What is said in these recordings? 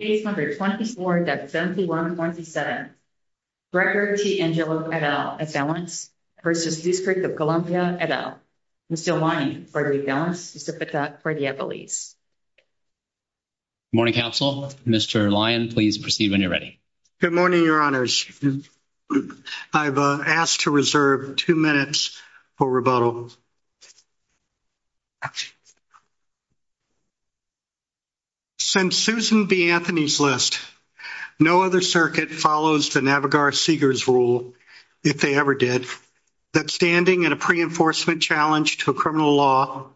Case number 24-71-27. Director T. Angelo, et al., of Delance v. District of Columbia, et al., Mr. Lyon, for the Delance-Pacifica, for the Eppolese. Good morning, counsel. Mr. Lyon, please proceed when you're ready. Good morning, your honors. I've asked to reserve two minutes for rebuttal. Since Susan B. Anthony's list, no other circuit follows the Navigar-Segars rule, if they ever did, that standing in a pre-enforcement challenge to a criminal law,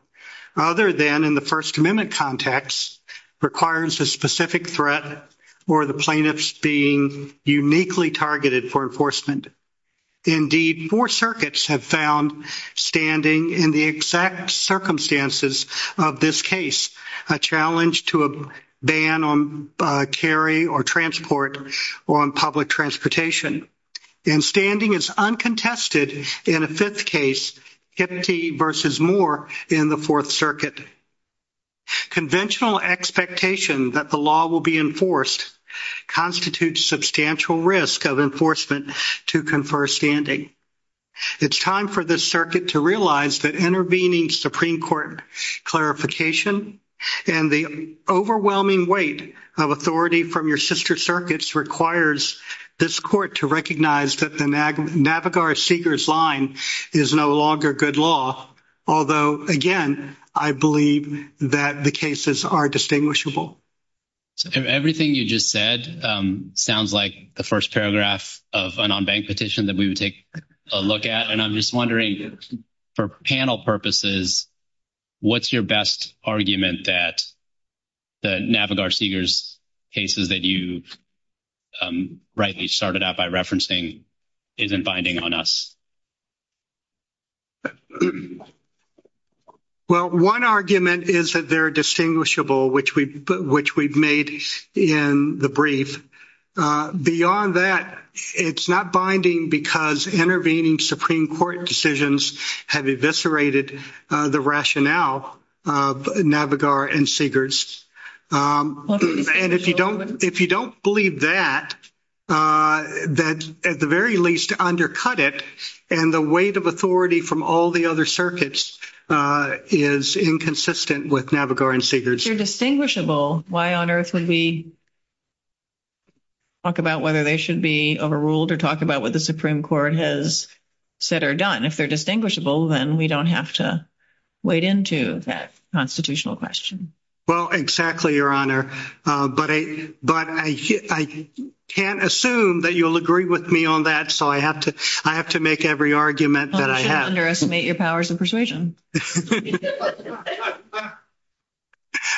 other than in the First Amendment context, requires a specific threat or the plaintiffs being uniquely targeted for enforcement. Indeed, four circuits have found standing in the exact circumstances of this case a challenge to a ban on carry or transport or on public transportation. And standing is uncontested in a fifth case, Kiptee v. Moore, in the Fourth Circuit. Conventional expectation that the law will be enforced constitutes substantial risk of enforcement to confer standing. It's time for this circuit to realize that intervening Supreme Court clarification and the overwhelming weight of authority from your sister circuits requires this court to recognize that the Navigar-Segars line is no longer good law, although, again, I believe that the cases are distinguishable. Everything you just said sounds like the first paragraph of an unbanked petition that we would take a look at. And I'm just wondering, for panel purposes, what's your best argument that the Navigar-Segars cases that you rightly started out by referencing isn't binding on us? Well, one argument is that they're distinguishable, which we've made in the brief. Beyond that, it's not binding because intervening Supreme Court decisions have eviscerated the rationale of Navigar and Segars. And if you don't believe that, at the very least, undercut it. And the weight of authority from all the other circuits is inconsistent with Navigar and Segars. If they're distinguishable, why on earth would we talk about whether they should be overruled or talk about what the Supreme Court has said or done? If they're distinguishable, then we don't have to wade into that constitutional question. Well, exactly, Your Honor. But I can't assume that you'll agree with me on that, so I have to make every argument that I have. You shouldn't underestimate your powers of persuasion.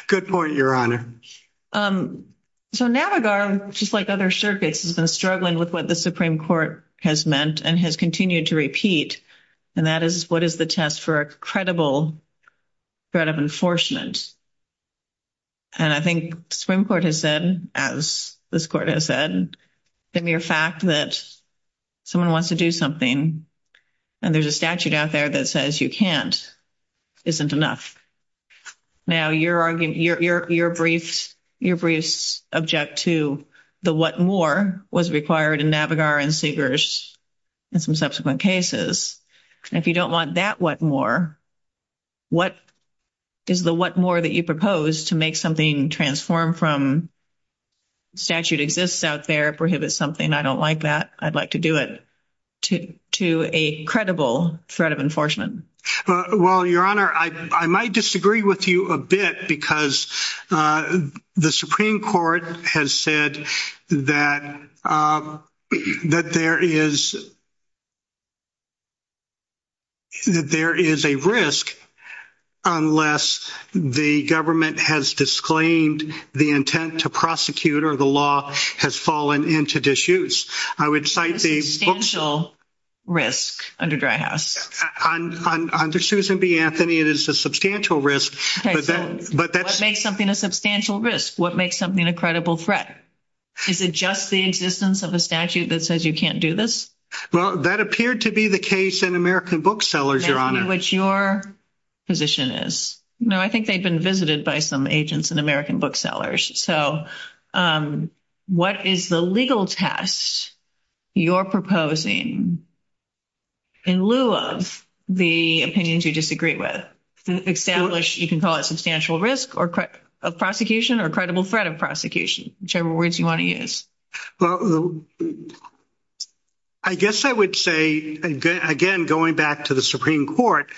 Good point, Your Honor. So Navigar, just like other circuits, has been struggling with what the Supreme Court has meant and has continued to repeat. And that is, what is the test for a credible threat of enforcement? And I think the Supreme Court has said, as this Court has said, the mere fact that someone wants to do something and there's a statute out there that says you can't isn't enough. Now, your briefs object to the what more was required in Navigar and Segars in some subsequent cases. And if you don't want that what more, what is the what more that you propose to make something transform from statute exists out there, prohibits something, I don't like that, I'd like to do it, to a credible threat of enforcement? Well, Your Honor, I might disagree with you a bit because the Supreme Court has said that there is a risk unless the government has disclaimed the intent to prosecute or the law has fallen into disuse. Substantial risk under Dry House. Under Susan B. Anthony, it is a substantial risk. What makes something a substantial risk? What makes something a credible threat? Is it just the existence of a statute that says you can't do this? Well, that appeared to be the case in American booksellers, Your Honor. In which your position is, you know, I think they've been visited by some agents in American booksellers. So what is the legal test you're proposing in lieu of the opinions you disagree with? Establish, you can call it substantial risk of prosecution or credible threat of prosecution, whichever words you want to use. Well, I guess I would say, again, going back to the Supreme Court,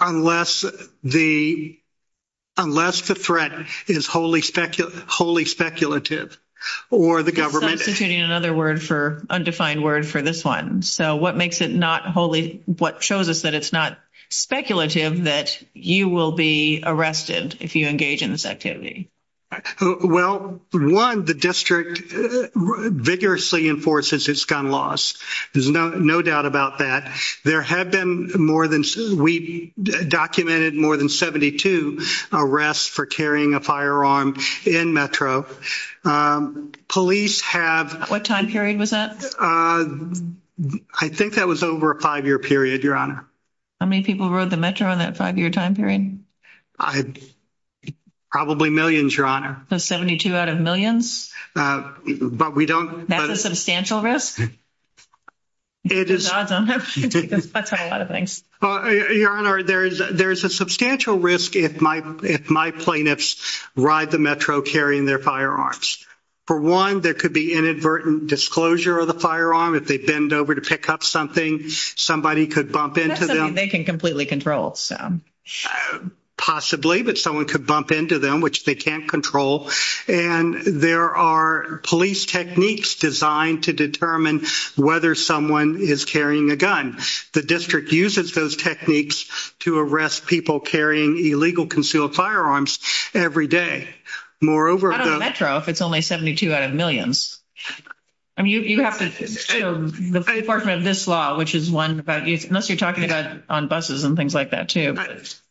unless the threat is wholly speculative or the government. Substituting another word for undefined word for this one. So what makes it not wholly, what shows us that it's not speculative that you will be arrested if you engage in this activity? Well, one, the district vigorously enforces its gun laws. There's no doubt about that. There have been more than we documented more than 72 arrests for carrying a firearm in Metro. Police have. What time period was that? I think that was over a five year period, Your Honor. How many people rode the Metro on that five year time period? Probably millions, Your Honor. 72 out of millions. But we don't. That's a substantial risk. It is. I don't have a lot of things. Your Honor, there is a substantial risk if my if my plaintiffs ride the Metro carrying their firearms. For one, there could be inadvertent disclosure of the firearm. If they bend over to pick up something, somebody could bump into them. They can completely control. Possibly, but someone could bump into them, which they can't control. And there are police techniques designed to determine whether someone is carrying a gun. The district uses those techniques to arrest people carrying illegal concealed firearms every day. Moreover, Metro, if it's only 72 out of millions. I mean, you have to the enforcement of this law, which is one about unless you're talking about on buses and things like that, too.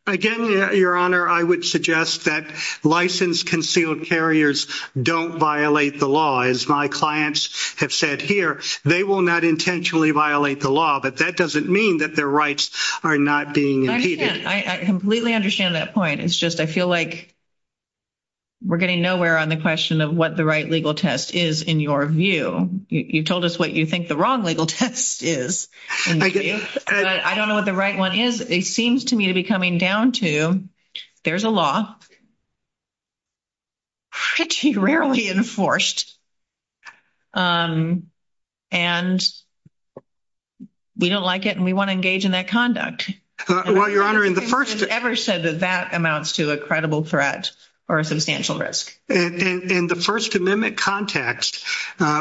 Again, Your Honor, I would suggest that license concealed carriers don't violate the law. As my clients have said here, they will not intentionally violate the law. But that doesn't mean that their rights are not being. I completely understand that point. It's just I feel like. We're getting nowhere on the question of what the right legal test is in your view. You told us what you think the wrong legal test is. I don't know what the right one is. It seems to me to be coming down to there's a law. Rarely enforced. And we don't like it and we want to engage in that conduct. Well, Your Honor, in the first ever said that that amounts to a credible threat or a substantial risk. And in the First Amendment context,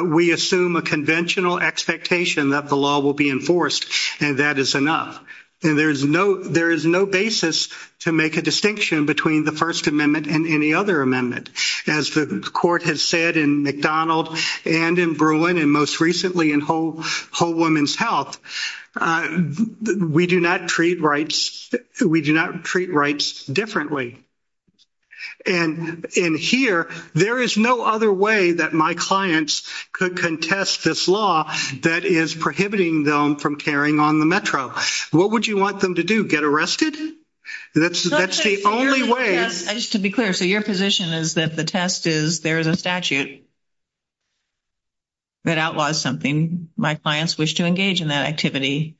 we assume a conventional expectation that the law will be enforced. And that is enough. And there is no there is no basis to make a distinction between the First Amendment and any other amendment. As the court has said in McDonald and in Berlin and most recently in whole whole woman's health, we do not treat rights. We do not treat rights differently. And in here, there is no other way that my clients could contest this law that is prohibiting them from carrying on the metro. What would you want them to do? Get arrested? That's that's the only way. Just to be clear. So your position is that the test is there is a statute. That outlaws something my clients wish to engage in that activity,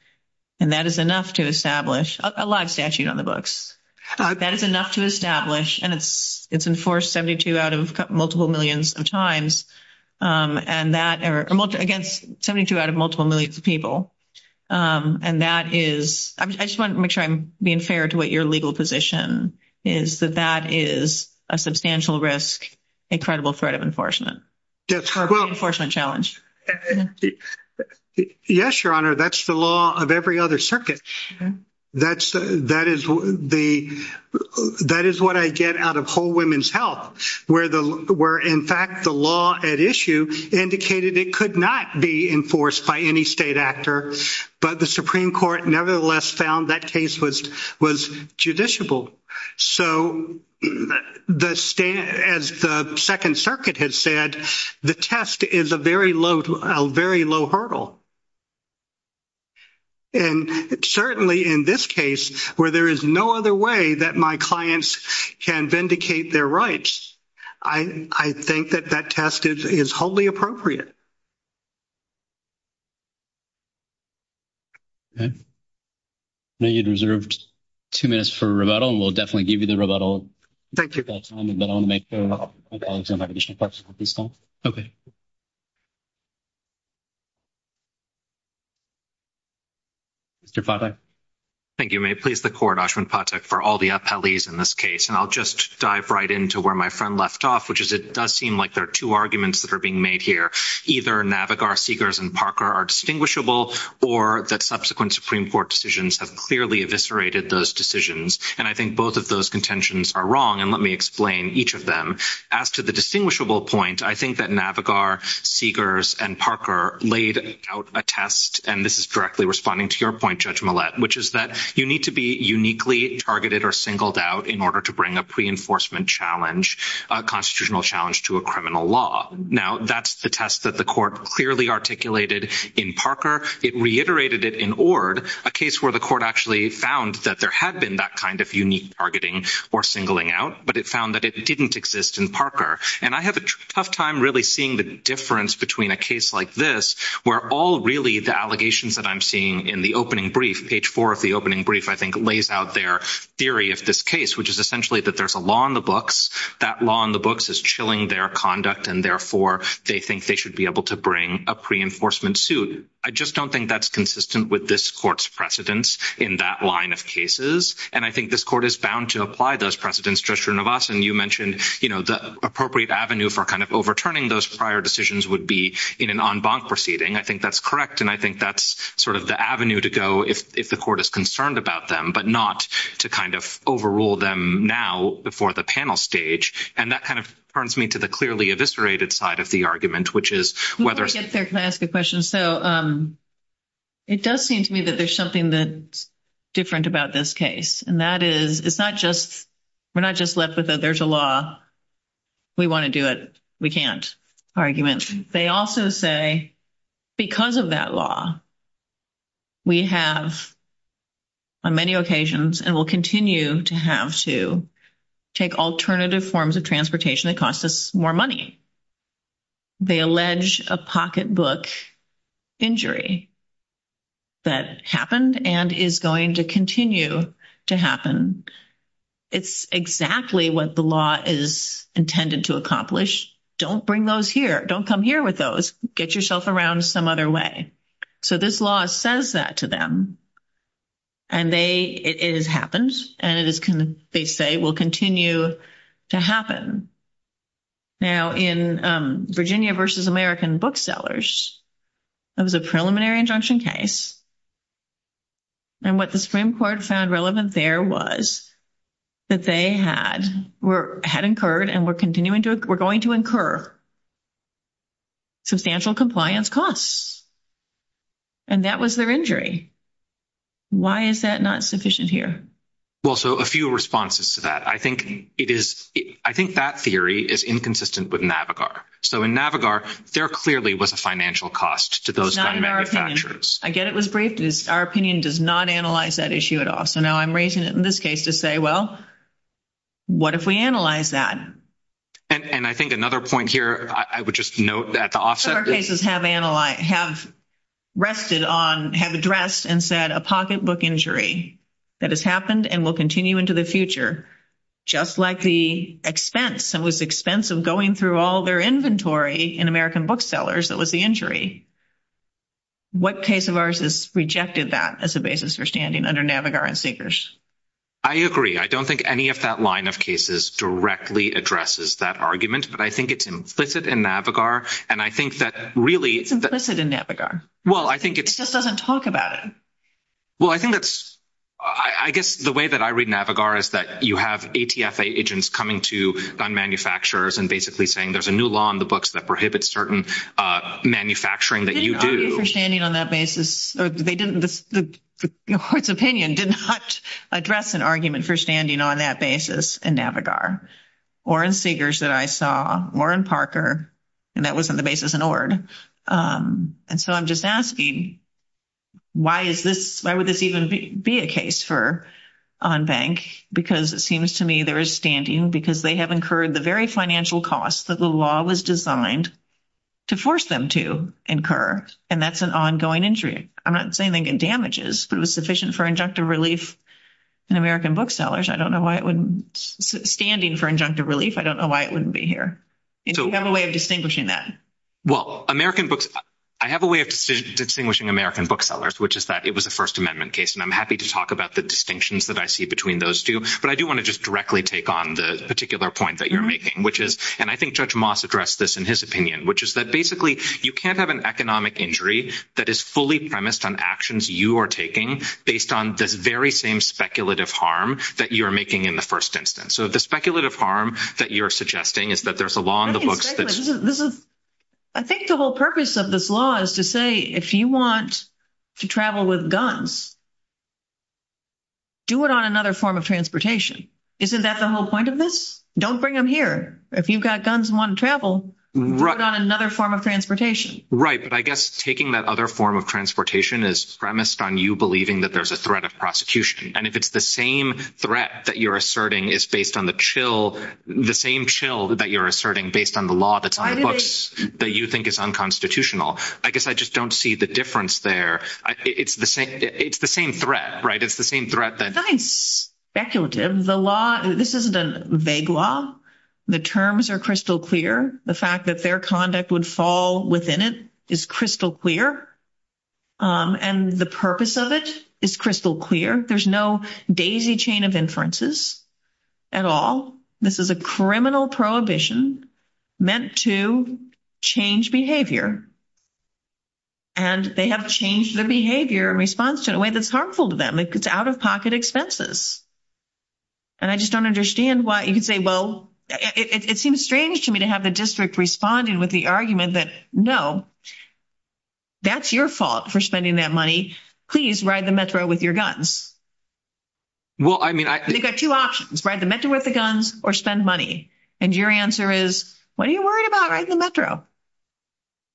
and that is enough to establish a live statute on the books. That is enough to establish and it's it's enforced 72 out of multiple millions of times. And that are against 72 out of multiple millions of people. And that is I just want to make sure I'm being fair to what your legal position is, that that is a substantial risk. Incredible threat of enforcement. Yes. Well, unfortunate challenge. Yes, Your Honor. That's the law of every other circuit. That's that is the that is what I get out of whole women's health, where the where, in fact, the law at issue indicated it could not be enforced by any state actor. But the Supreme Court, nevertheless, found that case was was judiciable. So, as the Second Circuit has said, the test is a very low, very low hurdle. And certainly in this case, where there is no other way that my clients can vindicate their rights, I think that that test is wholly appropriate. Okay. Now, you'd reserved 2 minutes for rebuttal and we'll definitely give you the rebuttal. Thank you. But I want to make sure my colleagues don't have additional questions at this time. Okay. Mr. Patek. Thank you. May it please the court, Ashwin Patek, for all the appellees in this case. And I'll just dive right into where my friend left off, which is it does seem like there are 2 arguments that are being made here. Either Navigar, Seegers and Parker are distinguishable or that subsequent Supreme Court decisions have clearly eviscerated those decisions. And I think both of those contentions are wrong. And let me explain each of them. As to the distinguishable point, I think that Navigar, Seegers and Parker laid out a test. And this is directly responding to your point, Judge Millett, which is that you need to be uniquely targeted or singled out in order to bring a pre-enforcement challenge, a constitutional challenge to a criminal law. Now, that's the test that the court clearly articulated in Parker. It reiterated it in Ord, a case where the court actually found that there had been that kind of unique targeting or singling out. But it found that it didn't exist in Parker. And I have a tough time really seeing the difference between a case like this where all really the allegations that I'm seeing in the opening brief, page 4 of the opening brief, I think lays out their theory of this case, which is essentially that there's a law in the books. That law in the books is chilling their conduct, and therefore, they think they should be able to bring a pre-enforcement suit. I just don't think that's consistent with this court's precedence in that line of cases. And I think this court is bound to apply those precedents. Judge Srinivasan, you mentioned the appropriate avenue for kind of overturning those prior decisions would be in an en banc proceeding. I think that's correct, and I think that's sort of the avenue to go if the court is concerned about them, but not to kind of overrule them now before the panel stage. And that kind of turns me to the clearly eviscerated side of the argument, which is whether— Before we get there, can I ask a question? So it does seem to me that there's something that's different about this case. And that is, it's not just—we're not just left with a there's a law, we want to do it, we can't argument. They also say because of that law, we have on many occasions and will continue to have to take alternative forms of transportation that cost us more money. They allege a pocketbook injury that happened and is going to continue to happen. It's exactly what the law is intended to accomplish. Don't bring those here. Don't come here with those. Get yourself around some other way. So this law says that to them, and it has happened, and they say it will continue to happen. Now, in Virginia v. American Booksellers, it was a preliminary injunction case. And what the Supreme Court found relevant there was that they had incurred and were continuing to— were going to incur substantial compliance costs. And that was their injury. Why is that not sufficient here? Well, so a few responses to that. I think it is—I think that theory is inconsistent with NAVIGAR. So in NAVIGAR, there clearly was a financial cost to those gun manufacturers. I get it was briefed. Our opinion does not analyze that issue at all. So now I'm raising it in this case to say, well, what if we analyze that? And I think another point here I would just note at the offset is— What cases have analyzed—have rested on—have addressed and said a pocketbook injury that has happened and will continue into the future, just like the expense— it was the expense of going through all their inventory in American Booksellers that was the injury. What case of ours has rejected that as a basis for standing under NAVIGAR and Seekers? I agree. I don't think any of that line of cases directly addresses that argument. But I think it's implicit in NAVIGAR. And I think that really— It's implicit in NAVIGAR. Well, I think it's— It just doesn't talk about it. Well, I think that's—I guess the way that I read NAVIGAR is that you have ATFA agents coming to gun manufacturers and basically saying there's a new law in the books that prohibits certain manufacturing that you do. They didn't argue for standing on that basis. They didn't—the court's opinion did not address an argument for standing on that basis in NAVIGAR. Or in Seekers that I saw. Or in Parker. And that wasn't the basis in Ord. And so I'm just asking, why is this—why would this even be a case for on bank? Because it seems to me there is standing because they have incurred the very financial costs that the law was designed to force them to incur. And that's an ongoing injury. I'm not saying they get damages, but it was sufficient for injunctive relief in American Booksellers. I don't know why it wouldn't—standing for injunctive relief, I don't know why it wouldn't be here. Do you have a way of distinguishing that? Well, American Books—I have a way of distinguishing American Booksellers, which is that it was a First Amendment case. And I'm happy to talk about the distinctions that I see between those two. But I do want to just directly take on the particular point that you're making, which is— and I think Judge Moss addressed this in his opinion, which is that basically you can't have an economic injury that is fully premised on actions you are taking based on this very same speculative harm that you're making in the first instance. So the speculative harm that you're suggesting is that there's a law in the books that's— I think the whole purpose of this law is to say if you want to travel with guns, do it on another form of transportation. Isn't that the whole point of this? Don't bring them here. If you've got guns and want to travel, do it on another form of transportation. Right, but I guess taking that other form of transportation is premised on you believing that there's a threat of prosecution. And if it's the same threat that you're asserting is based on the chill—the same chill that you're asserting based on the law that's on the books that you think is unconstitutional, I guess I just don't see the difference there. It's the same—it's the same threat, right? It's the same threat that— Nothing speculative. The law—this isn't a vague law. The terms are crystal clear. The fact that their conduct would fall within it is crystal clear, and the purpose of it is crystal clear. There's no daisy chain of inferences at all. This is a criminal prohibition meant to change behavior, and they have changed their behavior in response to it in a way that's harmful to them. It's out-of-pocket expenses. And I just don't understand why—you could say, well, it seems strange to me to have the district responding with the argument that, no, that's your fault for spending that money. Please ride the Metro with your guns. Well, I mean, I— They've got two options, ride the Metro with the guns or spend money. And your answer is, what are you worried about riding the Metro?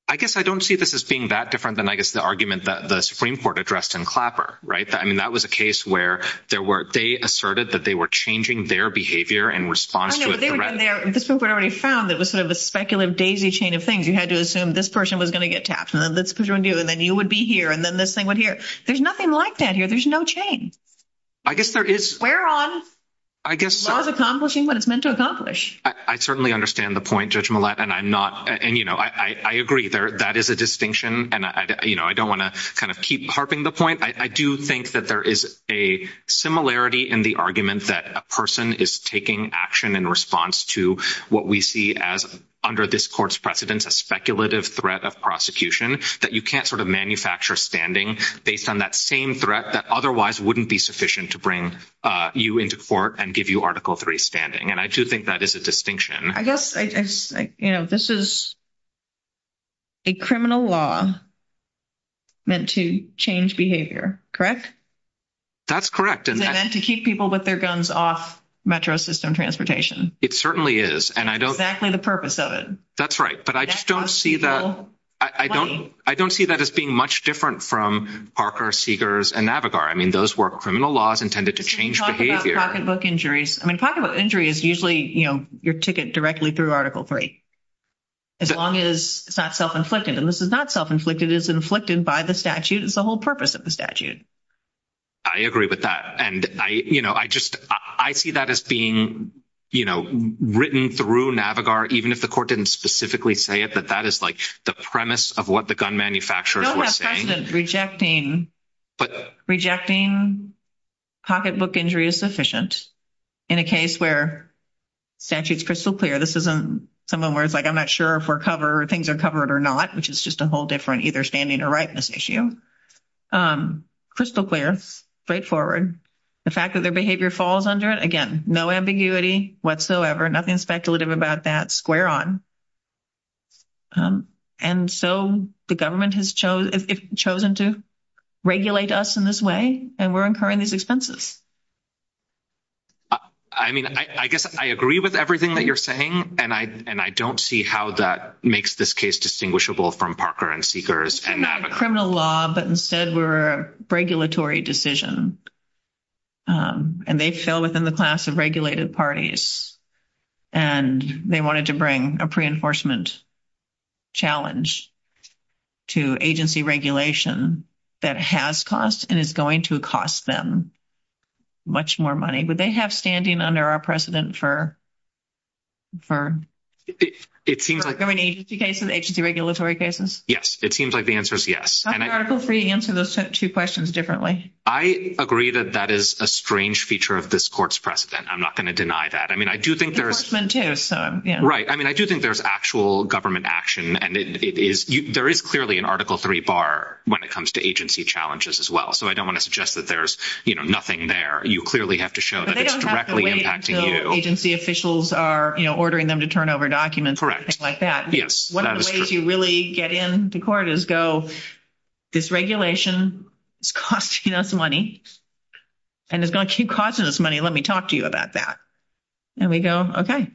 I guess I don't see this as being that different than, I guess, the argument that the Supreme Court addressed in Clapper, right? I mean, that was a case where there were—they asserted that they were changing their behavior in response to a threat. I know, but they were doing their—the Supreme Court already found that it was sort of a speculative daisy chain of things. You had to assume this person was going to get tapped, and then this person would do, and then you would be here, and then this thing would here. There's nothing like that here. There's no chain. I guess there is. We're on. I guess— Law is accomplishing what it's meant to accomplish. I certainly understand the point, Judge Millett, and I'm not—and, you know, I agree. That is a distinction, and, you know, I don't want to kind of keep harping the point. I do think that there is a similarity in the argument that a person is taking action in response to what we see as, under this court's precedence, a speculative threat of prosecution, that you can't sort of manufacture standing based on that same threat that otherwise wouldn't be sufficient to bring you into court and give you Article III standing. And I do think that is a distinction. I guess, you know, this is a criminal law meant to change behavior, correct? That's correct. Is it meant to keep people with their guns off metro system transportation? It certainly is, and I don't— That's exactly the purpose of it. That's right, but I just don't see that— That costs people money. I don't see that as being much different from Parker, Seegers, and Navigar. I mean, those were criminal laws intended to change behavior. I mean, pocketbook injury is usually, you know, your ticket directly through Article III, as long as it's not self-inflicted. And this is not self-inflicted. It is inflicted by the statute. It's the whole purpose of the statute. I agree with that. And, you know, I just—I see that as being, you know, written through Navigar, even if the court didn't specifically say it, that that is, like, the premise of what the gun manufacturers were saying. Rejecting pocketbook injury is sufficient in a case where statute's crystal clear. This isn't someone where it's like, I'm not sure if we're covered or things are covered or not, which is just a whole different either standing or rightness issue. Crystal clear, straightforward. The fact that their behavior falls under it, again, no ambiguity whatsoever, nothing speculative about that, square on. And so the government has chosen to regulate us in this way, and we're incurring these expenses. I mean, I guess I agree with everything that you're saying, and I don't see how that makes this case distinguishable from Parker and Seegers and Navigar. but instead were a regulatory decision, and they fell within the class of regulated parties, and they wanted to bring a pre-enforcement challenge to agency regulation that has cost and is going to cost them much more money. Would they have standing under our precedent for criminal agency cases, agency regulatory cases? Yes, it seems like the answer is yes. How could Article III answer those two questions differently? I agree that that is a strange feature of this court's precedent. I'm not going to deny that. I mean, I do think there's actual government action, and there is clearly an Article III bar when it comes to agency challenges as well. So I don't want to suggest that there's nothing there. You clearly have to show that it's directly impacting you. But they don't have to wait until agency officials are ordering them to turn over documents and things like that. Yes, that is true. One of the ways you really get into court is go, this regulation is costing us money and is going to keep costing us money. Let me talk to you about that. And we go, okay.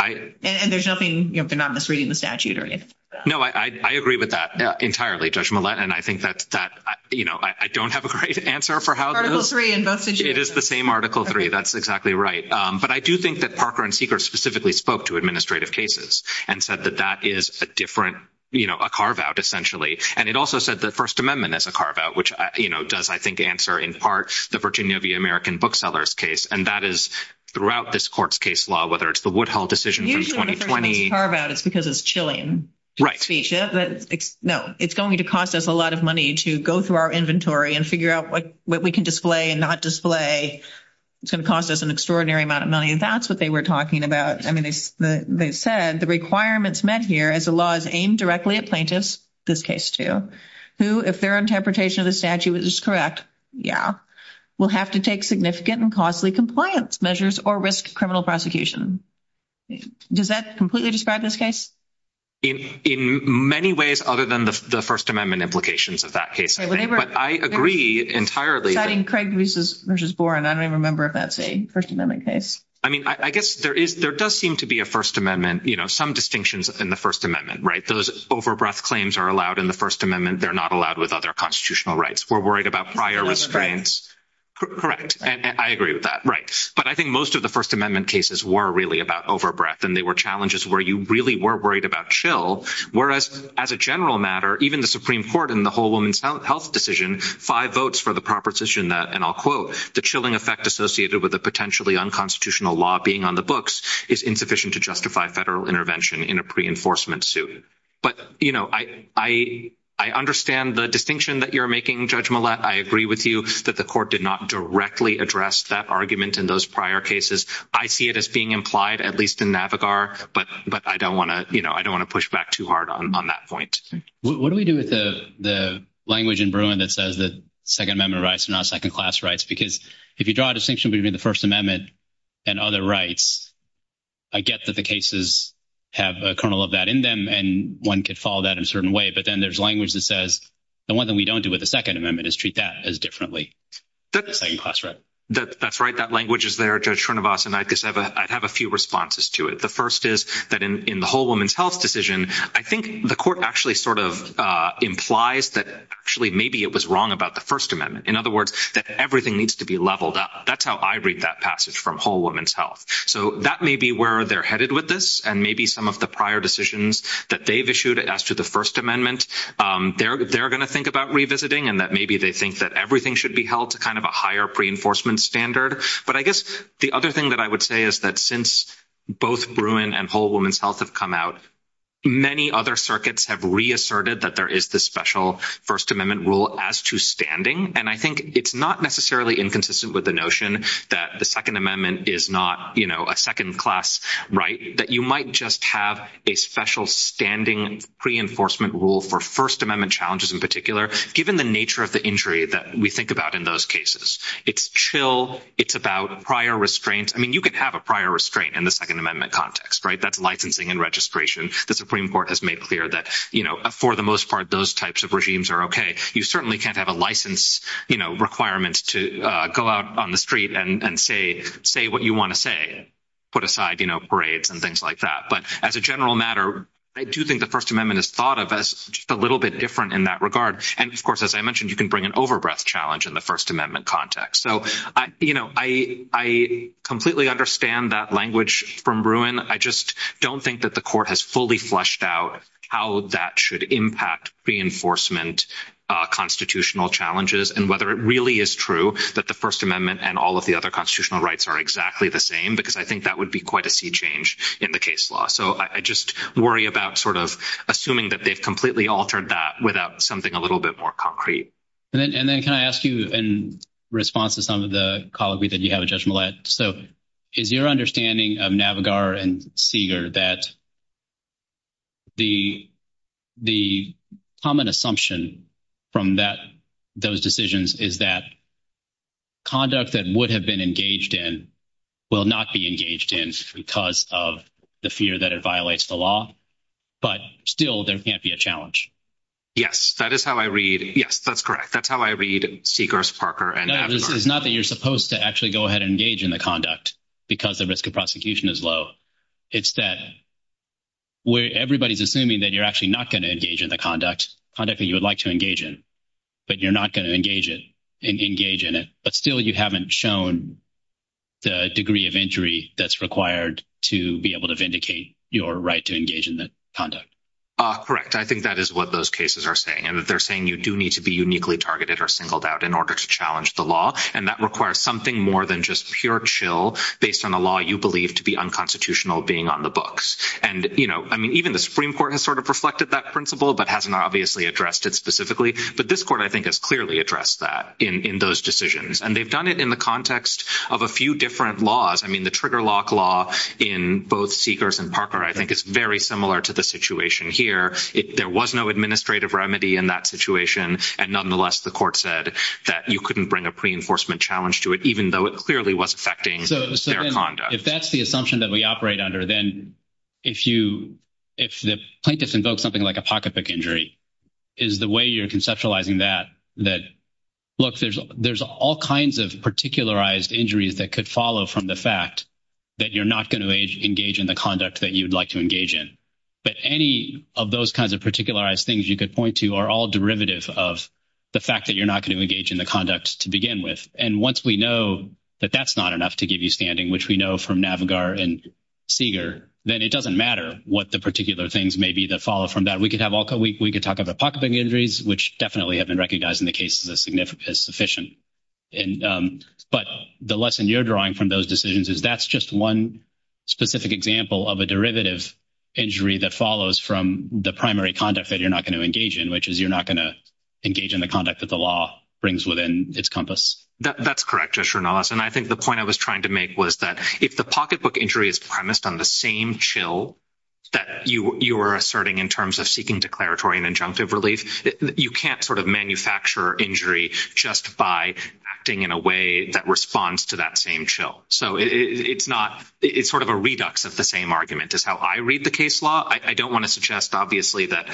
And there's nothing, you know, they're not misreading the statute or anything like that. No, I agree with that entirely, Judge Millett, and I think that, you know, I don't have a great answer for how those— Article III in both situations. It is the same Article III. That's exactly right. But I do think that Parker and Seeger specifically spoke to administrative cases and said that that is a different, you know, a carve-out essentially. And it also said the First Amendment is a carve-out, which, you know, does, I think, answer in part the Virginia v. American Booksellers case. And that is throughout this court's case law, whether it's the Woodhull decision from 2020— Usually when the First Amendment is a carve-out, it's because it's chilling. Right. No, it's going to cost us a lot of money to go through our inventory and figure out what we can display and not display. It's going to cost us an extraordinary amount of money, and that's what they were talking about. I mean, they said the requirements met here as the law is aimed directly at plaintiffs—this case, too— who, if their interpretation of the statute is correct—yeah— will have to take significant and costly compliance measures or risk criminal prosecution. Does that completely describe this case? In many ways, other than the First Amendment implications of that case, I think. But I agree entirely that— Besides Craig v. Boren, I don't even remember if that's a First Amendment case. I mean, I guess there does seem to be a First Amendment—you know, some distinctions in the First Amendment, right? Those over-breath claims are allowed in the First Amendment. They're not allowed with other constitutional rights. We're worried about prior risk claims. I agree with that. Right. But I think most of the First Amendment cases were really about over-breath, and they were challenges where you really were worried about chill, whereas, as a general matter, even the Supreme Court in the Whole Woman's Health decision—five votes for the proposition that, and I'll quote, the chilling effect associated with a potentially unconstitutional law being on the books is insufficient to justify federal intervention in a pre-enforcement suit. But, you know, I understand the distinction that you're making, Judge Millett. I agree with you that the court did not directly address that argument in those prior cases. I see it as being implied, at least in NAVIGAR, but I don't want to push back too hard on that point. What do we do with the language in Bruin that says that Second Amendment rights are not second-class rights? Because if you draw a distinction between the First Amendment and other rights, I get that the cases have a kernel of that in them, and one could follow that in a certain way, but then there's language that says the one thing we don't do with the Second Amendment is treat that as differently. That's right. That language is there, Judge Srinivasan. I'd have a few responses to it. The first is that in the Whole Woman's Health decision, I think the court actually sort of implies that actually maybe it was wrong about the First Amendment. In other words, that everything needs to be leveled up. That's how I read that passage from Whole Woman's Health. So that may be where they're headed with this, and maybe some of the prior decisions that they've issued as to the First Amendment, they're going to think about revisiting, and that maybe they think that everything should be held to kind of a higher pre-enforcement standard. But I guess the other thing that I would say is that since both Bruin and Whole Woman's Health have come out, many other circuits have reasserted that there is this special First Amendment rule as to standing, and I think it's not necessarily inconsistent with the notion that the Second Amendment is not a second-class right, that you might just have a special standing pre-enforcement rule for First Amendment challenges in particular, given the nature of the injury that we think about in those cases. It's chill. It's about prior restraints. I mean, you can have a prior restraint in the Second Amendment context, right? That's licensing and registration. The Supreme Court has made clear that, you know, for the most part, those types of regimes are okay. You certainly can't have a license requirement to go out on the street and say what you want to say, put aside, you know, parades and things like that. But as a general matter, I do think the First Amendment is thought of as just a little bit different in that regard. And, of course, as I mentioned, you can bring an over-breath challenge in the First Amendment context. So, you know, I completely understand that language from Bruin. I just don't think that the court has fully fleshed out how that should impact pre-enforcement constitutional challenges and whether it really is true that the First Amendment and all of the other constitutional rights are exactly the same because I think that would be quite a sea change in the case law. So I just worry about sort of assuming that they've completely altered that without something a little bit more concrete. And then can I ask you in response to some of the colloquy that you have, Judge Millett, so is your understanding of Navigar and Seeger that the common assumption from those decisions is that conduct that would have been engaged in will not be engaged in because of the fear that it violates the law, but still there can't be a challenge? Yes, that is how I read. Yes, that's correct. That's how I read Seeger's, Parker, and Navigar. No, this is not that you're supposed to actually go ahead and engage in the conduct because the risk of prosecution is low. It's that where everybody's assuming that you're actually not going to engage in the conduct, conduct that you would like to engage in, but you're not going to engage in it. But still you haven't shown the degree of injury that's required to be able to vindicate your right to engage in the conduct. Correct. I think that is what those cases are saying. And they're saying you do need to be uniquely targeted or singled out in order to challenge the law. And that requires something more than just pure chill based on a law you believe to be unconstitutional being on the books. And, you know, I mean, even the Supreme Court has sort of reflected that principle, but hasn't obviously addressed it specifically. But this court, I think, has clearly addressed that in those decisions. And they've done it in the context of a few different laws. I mean, the trigger lock law in both Seeger's and Parker, I think, is very similar to the situation here. There was no administrative remedy in that situation. And nonetheless, the court said that you couldn't bring a pre-enforcement challenge to it, even though it clearly was affecting their conduct. If that's the assumption that we operate under, then if the plaintiff invokes something like a pocket pick injury, is the way you're conceptualizing that, that, look, there's all kinds of particularized injuries that could follow from the fact that you're not going to engage in the conduct that you'd like to engage in. But any of those kinds of particularized things you could point to are all derivative of the fact that you're not going to engage in the conduct to begin with. And once we know that that's not enough to give you standing, which we know from Navigar and Seeger, then it doesn't matter what the particular things may be that follow from that. We could talk about pocket pick injuries, which definitely have been recognized in the case as sufficient. But the lesson you're drawing from those decisions is that's just one specific example of a derivative injury that follows from the primary conduct that you're not going to engage in, which is you're not going to engage in the conduct that the law brings within its compass. That's correct, Joshua Nolas. And I think the point I was trying to make was that if the pocket pick injury is premised on the same chill that you were asserting in terms of seeking declaratory and injunctive relief, you can't sort of manufacture injury just by acting in a way that responds to that same chill. So it's not – it's sort of a redux of the same argument is how I read the case law. I don't want to suggest, obviously, that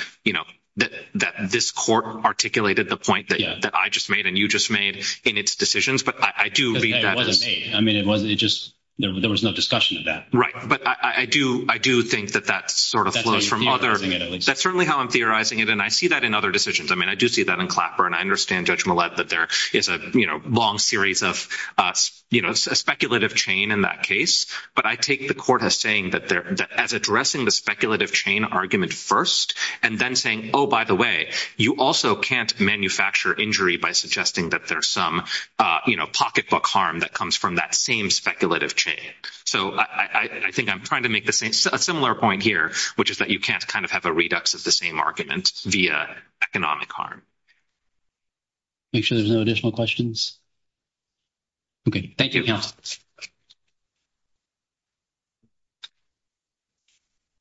this court articulated the point that I just made and you just made in its decisions. But I do read that as – It wasn't made. I mean, it wasn't – it just – there was no discussion of that. Right. But I do think that that sort of flows from other – That's how you're theorizing it, at least. That's certainly how I'm theorizing it, and I see that in other decisions. I mean, I do see that in Clapper, and I understand Judge Millett that there is a long series of – a speculative chain in that case. But I take the court as saying that there – as addressing the speculative chain argument first and then saying, oh, by the way, you also can't manufacture injury by suggesting that there's some pocketbook harm that comes from that same speculative chain. So I think I'm trying to make the same – a similar point here, which is that you can't kind of have a redux of the same argument via economic harm. Make sure there's no additional questions. Okay. Thank you. Thank you, counsel.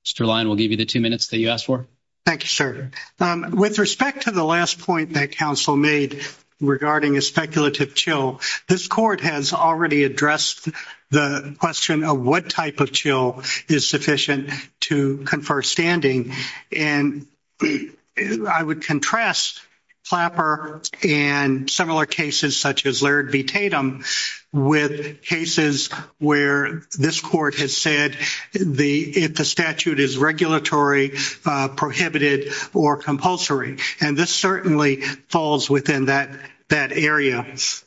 Mr. Lyon, we'll give you the two minutes that you asked for. Thank you, sir. With respect to the last point that counsel made regarding a speculative chill, this court has already addressed the question of what type of chill is sufficient to confer standing. And I would contrast Clapper and similar cases such as Laird v. Tatum with cases where this court has said the – if the statute is regulatory, prohibited, or compulsory. And this certainly falls within that area.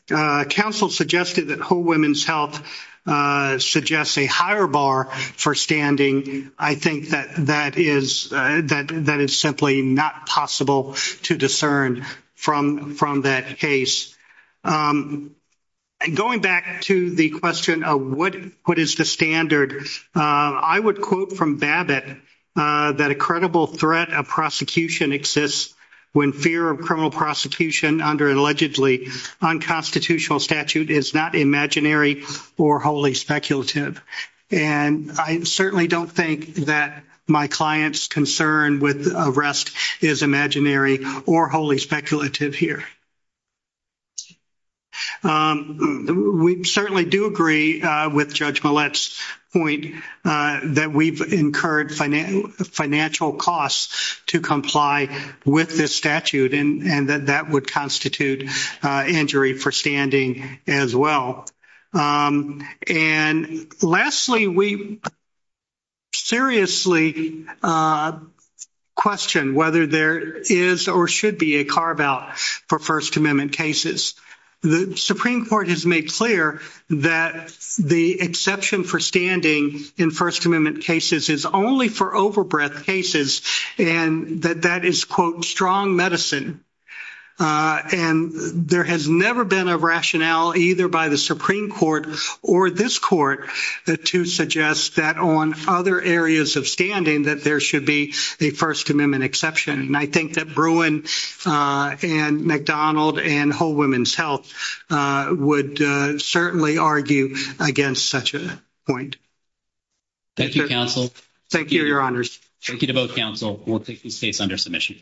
Counsel suggested that Whole Women's Health suggests a higher bar for standing. I think that that is – that is simply not possible to discern from that case. Going back to the question of what is the standard, I would quote from Babbitt that a credible threat of prosecution exists when fear of criminal prosecution under an allegedly unconstitutional statute is not imaginary or wholly speculative. And I certainly don't think that my client's concern with arrest is imaginary or wholly speculative here. We certainly do agree with Judge Millett's point that we've incurred financial costs to comply with this statute, and that that would constitute injury for standing as well. And lastly, we seriously question whether there is or should be a carve-out for First Amendment cases. The Supreme Court has made clear that the exception for standing in First Amendment cases is only for overbreadth cases, and that that is, quote, strong medicine. And there has never been a rationale either by the Supreme Court or this court to suggest that on other areas of standing that there should be a First Amendment exception. And I think that Bruin and McDonald and Whole Women's Health would certainly argue against such a point. Thank you, Counsel. Thank you, Your Honors. Thank you to both Counsel. We'll take this case under submission.